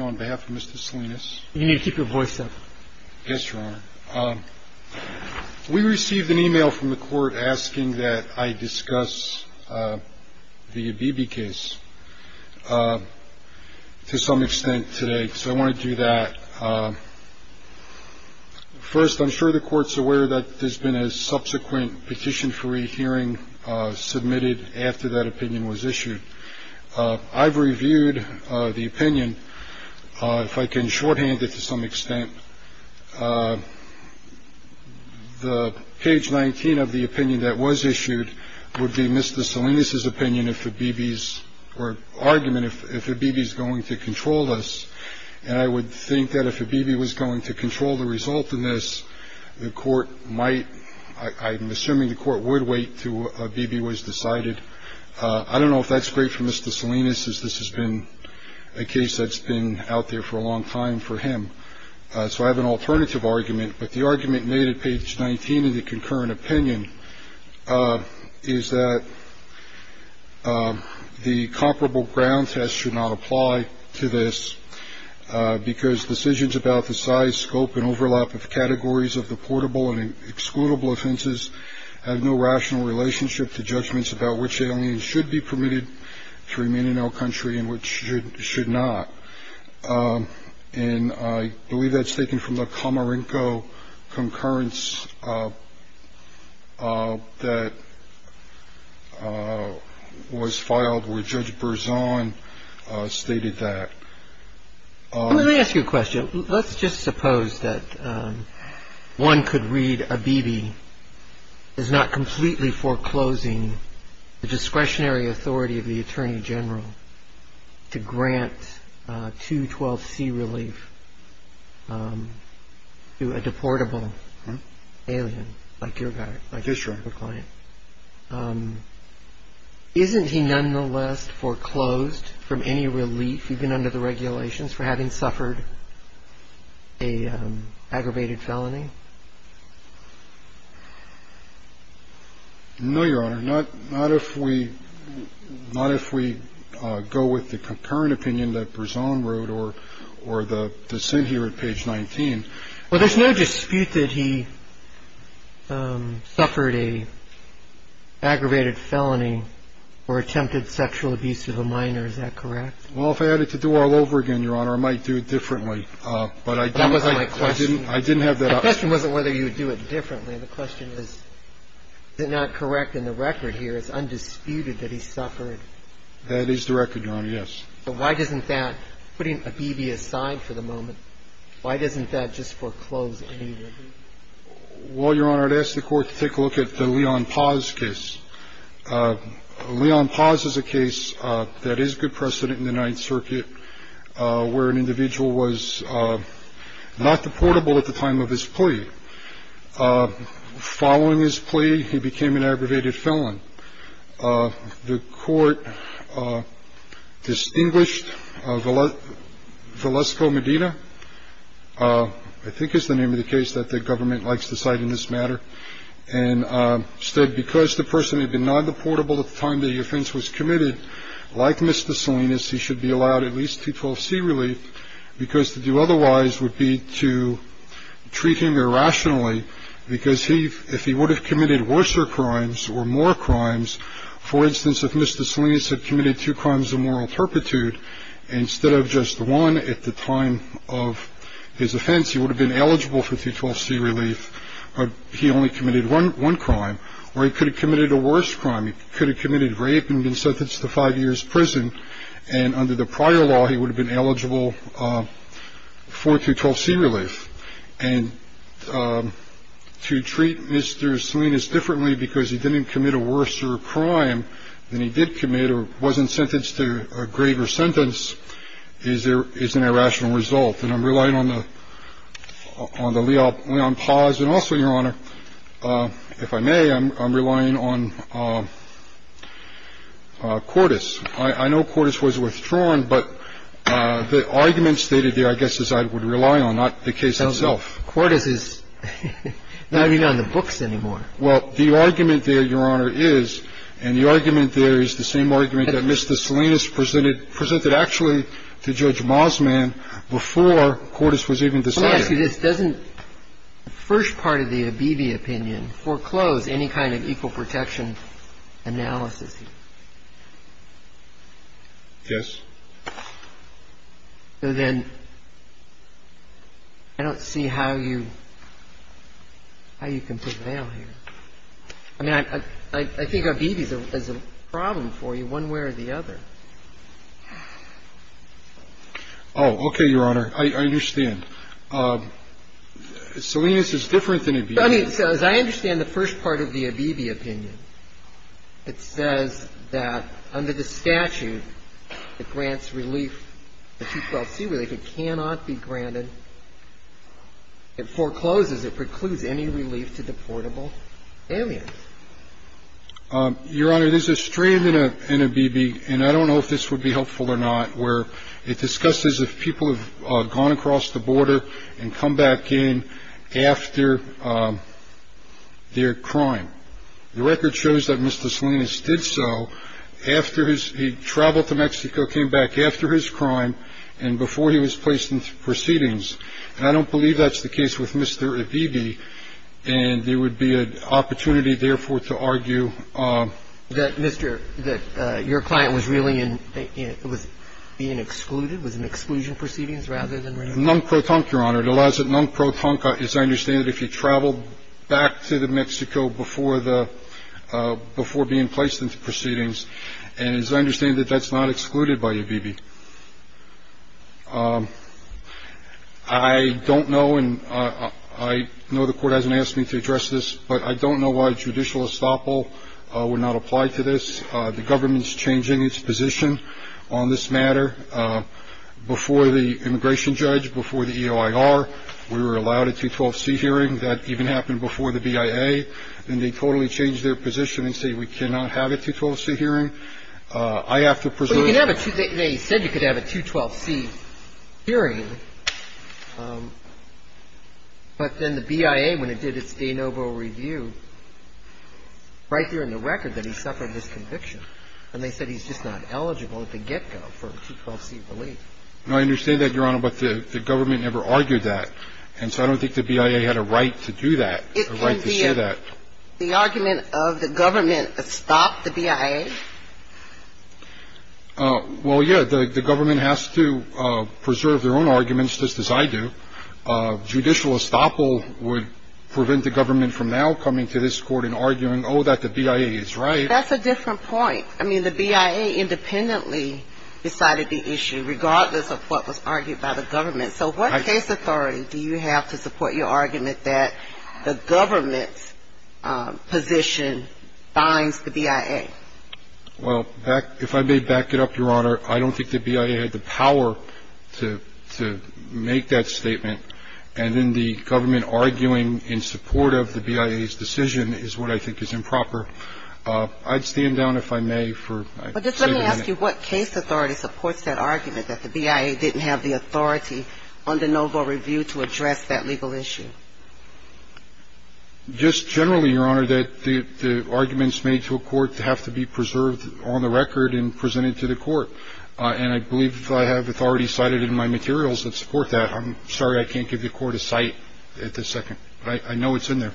on behalf of Mr. Salinas. You need to keep your voice up. Yes, Your Honor. We received an email from the court asking that I discuss the Abebe case to some extent today. So I want to do that. First, I'm sure the court's aware that there's been a subsequent petition for rehearing submitted after that opinion was issued. I've reviewed the opinion. If I can shorthand it to some extent, the page 19 of the opinion that was issued would be Mr. Salinas's opinion. If the BBs were argument, if the BBs going to control us. And I would think that if a BB was going to control the result in this, the court might. I'm assuming the court would wait to a BB was decided. I don't know if that's great for Mr. Salinas, as this has been a case that's been out there for a long time for him. So I have an alternative argument. But the argument made at page 19 of the concurrent opinion is that the comparable ground test should not apply to this because decisions about the size, scope and overlap of categories of the portable and excludable offenses have no rational relationship to judgments about which aliens should be permitted to remain in our country and which should not. And I believe that's taken from the Comerico concurrence that was filed with Judge Burzon stated that. Let me ask you a question. Let's just suppose that one could read a BB is not completely foreclosing the discretionary authority of the attorney general to grant to 12 C relief to a deportable alien like your guy. I guess you're a client. Isn't he nonetheless foreclosed from any relief even under the regulations for having suffered a aggravated felony? No, Your Honor. Not not if we not if we go with the concurrent opinion that Burzon wrote or or the dissent here at page 19. Well, there's no dispute that he suffered a aggravated felony or attempted sexual abuse of a minor. Is that correct? Well, if I had to do all over again, Your Honor, I might do it differently. But I didn't I didn't I didn't have that question. Wasn't whether you would do it differently. The question is, is it not correct in the record here is undisputed that he suffered. That is the record. Yes. So why doesn't that putting a BB aside for the moment, why doesn't that just foreclose any relief? Well, Your Honor, I'd ask the court to take a look at the Leon Paz case. Leon Paz is a case that is good precedent in the Ninth Circuit where an individual was not deportable at the time of his plea. Following his plea, he became an aggravated felon. The court distinguished of a lot. Velasco Medina, I think, is the name of the case that the government likes to cite in this matter. And instead, because the person had been not deportable at the time, the offense was committed. Like Mr. Salinas, he should be allowed at least people see relief because to do otherwise would be to treat him irrationally. Because he if he would have committed worse or crimes or more crimes, for instance, if Mr. Salinas had committed two crimes of moral turpitude instead of just one at the time of his offense, he would have been eligible for T-12C relief. He only committed one crime or he could have committed a worse crime. He could have committed rape and been sentenced to five years prison. And under the prior law, he would have been eligible for T-12C relief. And to treat Mr. Salinas differently because he didn't commit a worse crime than he did commit or wasn't sentenced to a greater sentence is an irrational result. And I'm relying on the Leon Paz and also, Your Honor, if I may, I'm relying on Cordis. I know Cordis was withdrawn, but the argument stated there I guess is I would rely on, not the case itself. Cordis is not even on the books anymore. Well, the argument there, Your Honor, is and the argument there is the same argument that Mr. Salinas presented actually to Judge Mosman before Cordis was even decided. Let me ask you this. Doesn't the first part of the Abebe opinion foreclose any kind of equal protection analysis? Yes. So then I don't see how you can prevail here. I mean, I think Abebe is a problem for you one way or the other. Oh, okay, Your Honor. I understand. Salinas is different than Abebe. I mean, so as I understand the first part of the Abebe opinion, it says that under the statute, it grants relief, the 212C relief. It cannot be granted. It forecloses. It precludes any relief to deportable aliens. Your Honor, there's a strand in Abebe, and I don't know if this would be helpful or not, where it discusses if people have gone across the border and come back in after their crime. The record shows that Mr. Salinas did so after he traveled to Mexico, came back after his crime, and before he was placed in proceedings. And I don't believe that's the case with Mr. Abebe, and there would be an opportunity, therefore, to argue. That, Mr. — that your client was really in — was being excluded, was in exclusion proceedings rather than re-inclusion? Nunc pro tonque, Your Honor. It allows — nunc pro tonque, as I understand it, if you traveled back to Mexico before the — before being placed into proceedings. And as I understand it, that's not excluded by Abebe. I don't know, and I know the Court hasn't asked me to address this, but I don't know why judicial estoppel would not apply to this. The government's changing its position on this matter. Before the immigration judge, before the EOIR, we were allowed a 212C hearing. That even happened before the BIA. And they totally changed their position and say we cannot have a 212C hearing. I have to presume — Well, you can have a — they said you could have a 212C hearing. But then the BIA, when it did its de novo review, right there in the record, that he suffered this conviction. And they said he's just not eligible at the get-go for a 212C relief. No, I understand that, Your Honor, but the government never argued that. And so I don't think the BIA had a right to do that, a right to say that. It can be a — the argument of the government stop the BIA? Well, yeah. The government has to preserve their own arguments, just as I do. Judicial estoppel would prevent the government from now coming to this Court and arguing, oh, that the BIA is right. That's a different point. I mean, the BIA independently decided the issue, regardless of what was argued by the government. So what case authority do you have to support your argument that the government's position binds the BIA? Well, if I may back it up, Your Honor, I don't think the BIA had the power to make that statement. And then the government arguing in support of the BIA's decision is what I think is improper. I'd stand down, if I may, for a second. Well, just let me ask you what case authority supports that argument, that the BIA didn't have the authority under novo review to address that legal issue? Just generally, Your Honor, that the arguments made to a court have to be preserved on the record and presented to the court. And I believe I have authority cited in my materials that support that. I'm sorry I can't give the Court a cite at this second. But I know it's in there.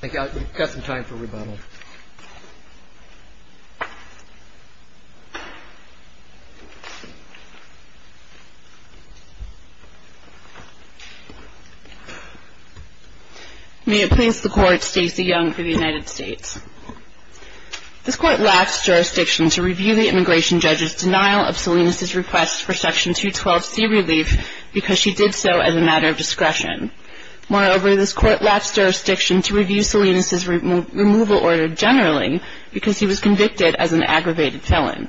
Thank you. We've got some time for rebuttal. May it please the Court, Stacey Young for the United States. This Court lapsed jurisdiction to review the immigration judge's denial of Salinas' request for Section 212C relief because she did so as a matter of discretion. Moreover, this Court lapsed jurisdiction to review Salinas' removal order generally because he was convicted as an aggravated felon.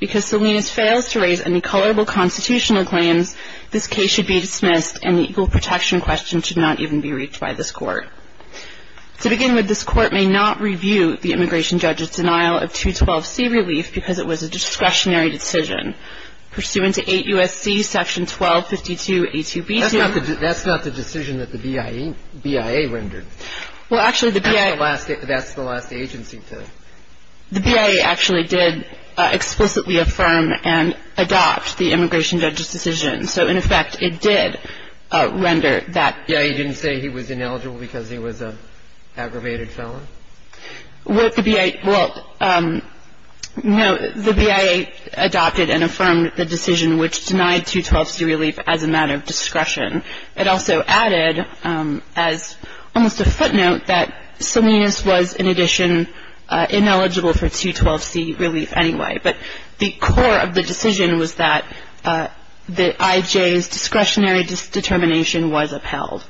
Because Salinas fails to raise any colorable constitutional claims, this case should be dismissed and the equal protection question should not even be reached by this Court. To begin with, this Court may not review the immigration judge's denial of 212C relief because it was a discretionary decision. This Court may not review the immigration judge's denial of Salinas' removal order because it was a discretionary decision. Pursuant to 8 U.S.C. Section 1252A2B2. That's not the decision that the BIA rendered. Well, actually, the BIA. That's the last agency to. The BIA actually did explicitly affirm and adopt the immigration judge's decision. So, in effect, it did render that. Yeah, you didn't say he was ineligible because he was an aggravated felon? Well, the BIA, well, no. The BIA adopted and affirmed the decision which denied 212C relief as a matter of discretion. It also added as almost a footnote that Salinas was, in addition, ineligible for 212C relief anyway. But the core of the decision was that the I.J.'s discretionary determination was upheld.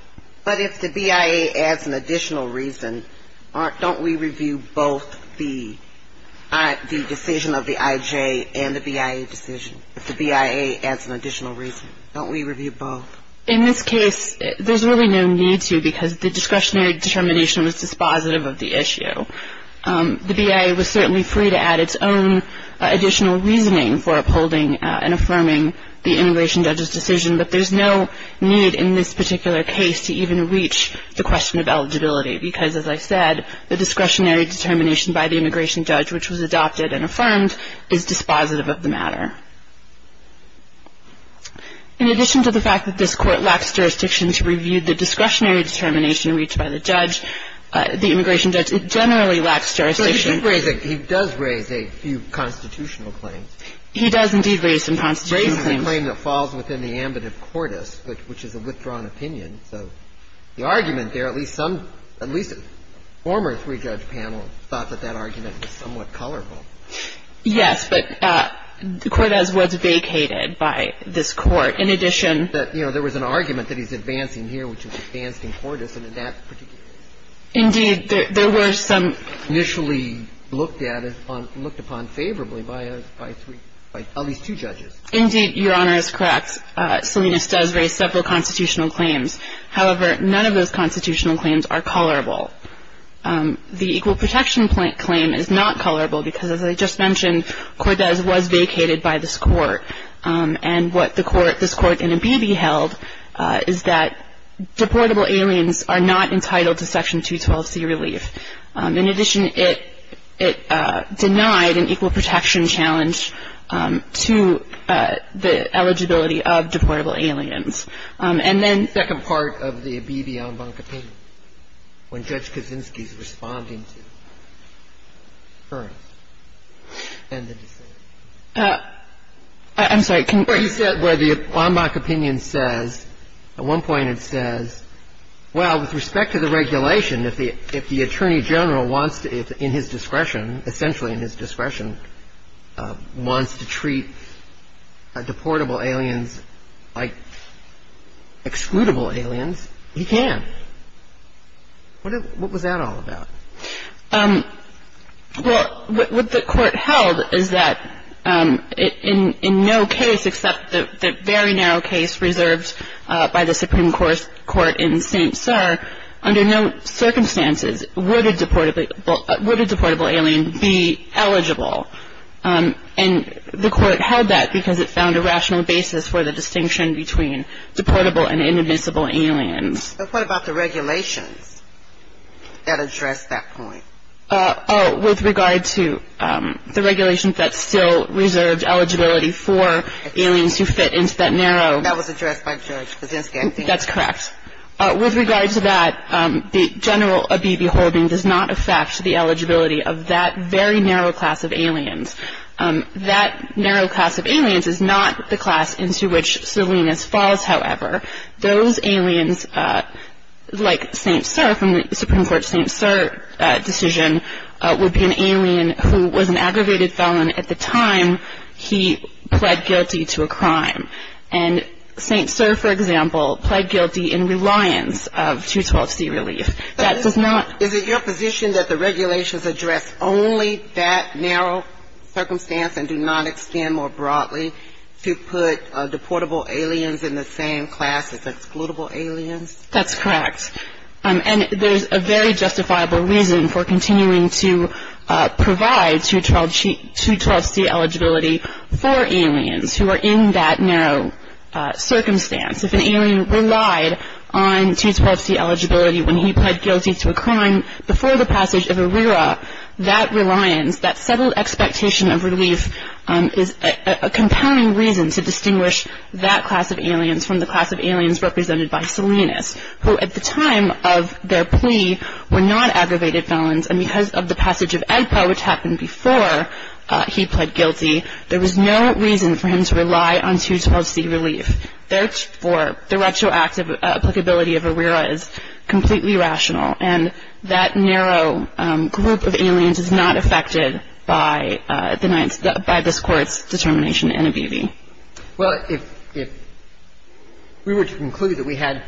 But if the BIA adds an additional reason, don't we review both the decision of the I.J. and the BIA decision? If the BIA adds an additional reason, don't we review both? In this case, there's really no need to because the discretionary determination was dispositive of the issue. The BIA was certainly free to add its own additional reasoning for upholding and affirming the immigration judge's decision, but there's no need in this particular case to even reach the question of eligibility because, as I said, the discretionary determination by the immigration judge, which was adopted and affirmed, is dispositive of the matter. In addition to the fact that this Court lacks jurisdiction to review the discretionary determination reached by the judge, the immigration judge generally lacks jurisdiction. So he did raise a few constitutional claims. He does, indeed, raise some constitutional claims. Raising a claim that falls within the ambit of cordus, which is a withdrawn opinion. So the argument there, at least some, at least a former three-judge panel thought that that argument was somewhat colorful. Yes, but Cordes was vacated by this Court. In addition to that, you know, there was an argument that he's advancing here, which is advancing cordus, and in that particular case. Indeed, there were some. Initially looked at, looked upon favorably by at least two judges. Indeed, Your Honor is correct. Salinas does raise several constitutional claims. However, none of those constitutional claims are colorable. The equal protection claim is not colorable because, as I just mentioned, Cordes was vacated by this Court. And what the Court, this Court in Ibibi held is that deportable aliens are not entitled to Section 212C relief. In addition, it denied an equal protection challenge to the eligibility of deportable aliens. And then the second part of the Ibibi en banc opinion. When Judge Kaczynski's responding to Kern and the dissenters. I'm sorry. He said where the en banc opinion says, at one point it says, well, with respect to the regulation, if the Attorney General wants to, in his discretion, essentially in his discretion, wants to treat deportable aliens like excludable aliens, he can. What was that all about? Well, what the Court held is that in no case except the very narrow case reserved by the Supreme Court in St. And the Court held that because it found a rational basis for the distinction between deportable and inadmissible aliens. But what about the regulations that address that point? With regard to the regulations that still reserved eligibility for aliens who fit into that narrow. That was addressed by Judge Kaczynski. That's correct. With regard to that, the general Ibibi holding does not affect the eligibility of that very narrow class of aliens. That narrow class of aliens is not the class into which Salinas falls, however. Those aliens, like St. Sir, from the Supreme Court's St. Sir decision, would be an alien who was an aggravated felon at the time he pled guilty to a crime. And St. Sir, for example, pled guilty in reliance of 212C relief. That does not. Is it your position that the regulations address only that narrow circumstance and do not extend more broadly to put deportable aliens in the same class as excludable aliens? That's correct. And there's a very justifiable reason for continuing to provide 212C eligibility for aliens who are in that narrow circumstance. If an alien relied on 212C eligibility when he pled guilty to a crime before the passage of ERIRA, that reliance, that settled expectation of relief, is a compounding reason to distinguish that class of aliens from the class of aliens represented by Salinas, who at the time of their plea were not aggravated felons, and because of the passage of EGPA, which happened before he pled guilty, there was no reason for him to rely on 212C relief. Therefore, the retroactive applicability of ERIRA is completely rational. And that narrow group of aliens is not affected by the Ninth — by this Court's determination in NABBV. Well, if we were to conclude that we had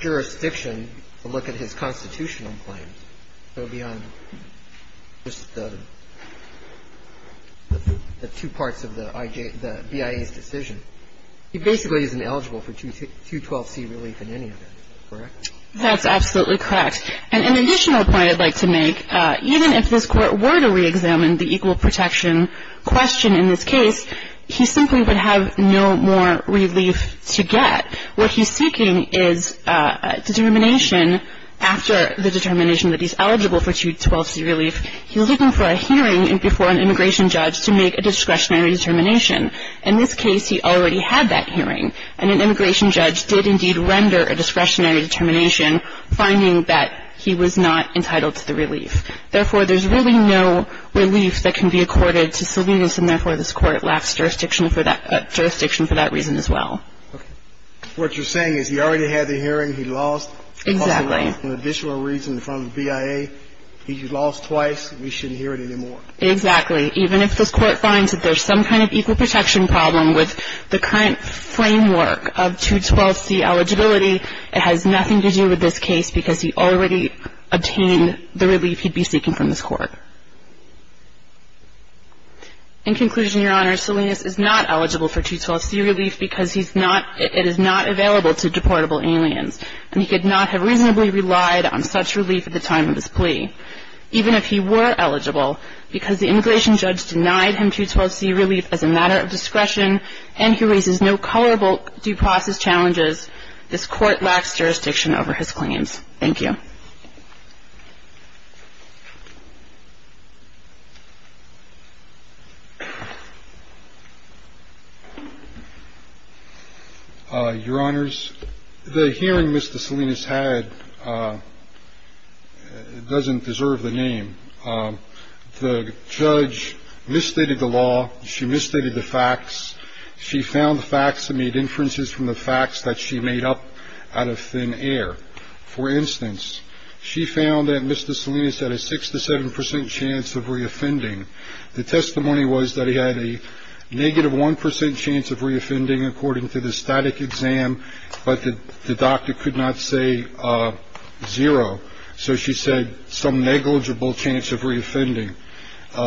jurisdiction to look at his constitutional claims, so beyond just the two parts of the BIA's decision, he basically isn't eligible for 212C relief in any of it, correct? That's absolutely correct. And an additional point I'd like to make, even if this Court were to reexamine the equal protection question in this case, he simply would have no more relief to get. What he's seeking is determination after the determination that he's eligible for 212C relief. He's looking for a hearing before an immigration judge to make a discretionary determination. In this case, he already had that hearing, and an immigration judge did indeed render a discretionary determination, finding that he was not entitled to the relief. Therefore, there's really no relief that can be accorded to Salinas, and therefore, this Court lacks jurisdiction for that — jurisdiction for that reason as well. Okay. What you're saying is he already had the hearing. He lost — Exactly. — an additional reason in front of the BIA. He lost twice. We shouldn't hear it anymore. Exactly. Even if this Court finds that there's some kind of equal protection problem with the current framework of 212C eligibility, it has nothing to do with this case because he already obtained the relief he'd be seeking from this Court. In conclusion, Your Honor, Salinas is not eligible for 212C relief because he's not — it is not available to deportable aliens, and he could not have reasonably relied on such relief at the time of his plea. Even if he were eligible, because the immigration judge denied him 212C relief as a matter of discretion, and he raises no culpable due process challenges, this Court lacks jurisdiction over his claims. Thank you. Your Honors, the hearing Mr. Salinas had doesn't deserve the name. The judge misstated the law. She misstated the facts. She found the facts and made inferences from the facts that she made up out of thin air. For instance, she found that Mr. Salinas had a 6 to 7 percent chance of reoffending. The testimony was that he had a negative 1 percent chance of reoffending according to the static exam, but the doctor could not say zero. So she said some negligible chance of reoffending.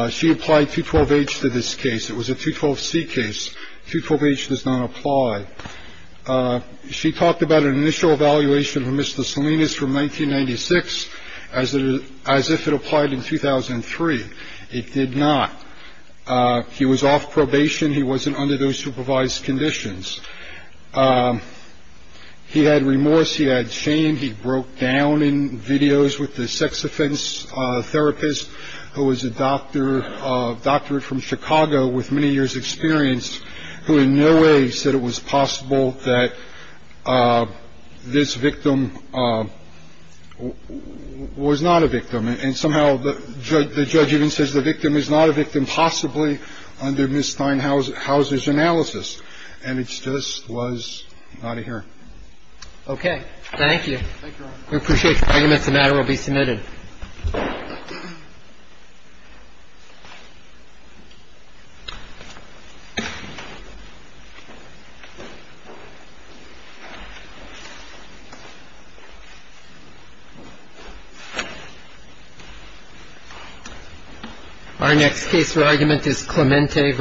She applied 212H to this case. It was a 212C case. 212H does not apply. She talked about an initial evaluation from Mr. Salinas from 1996 as if it applied in 2003. It did not. He was off probation. He wasn't under those supervised conditions. He had remorse. He had shame. He broke down in videos with the sex offense therapist who was a doctor, a doctor from Chicago with many years experience, who in no way said it was possible that this victim was not a victim. And somehow the judge even says the victim is not a victim, possibly under Ms. Steinhauser's analysis. And it just was not a hearing. Thank you. Thank you. Thank you. Okay. Thank you. Thank you, Your Honor. We appreciate your arguments. The matter will be submitted. Thank you.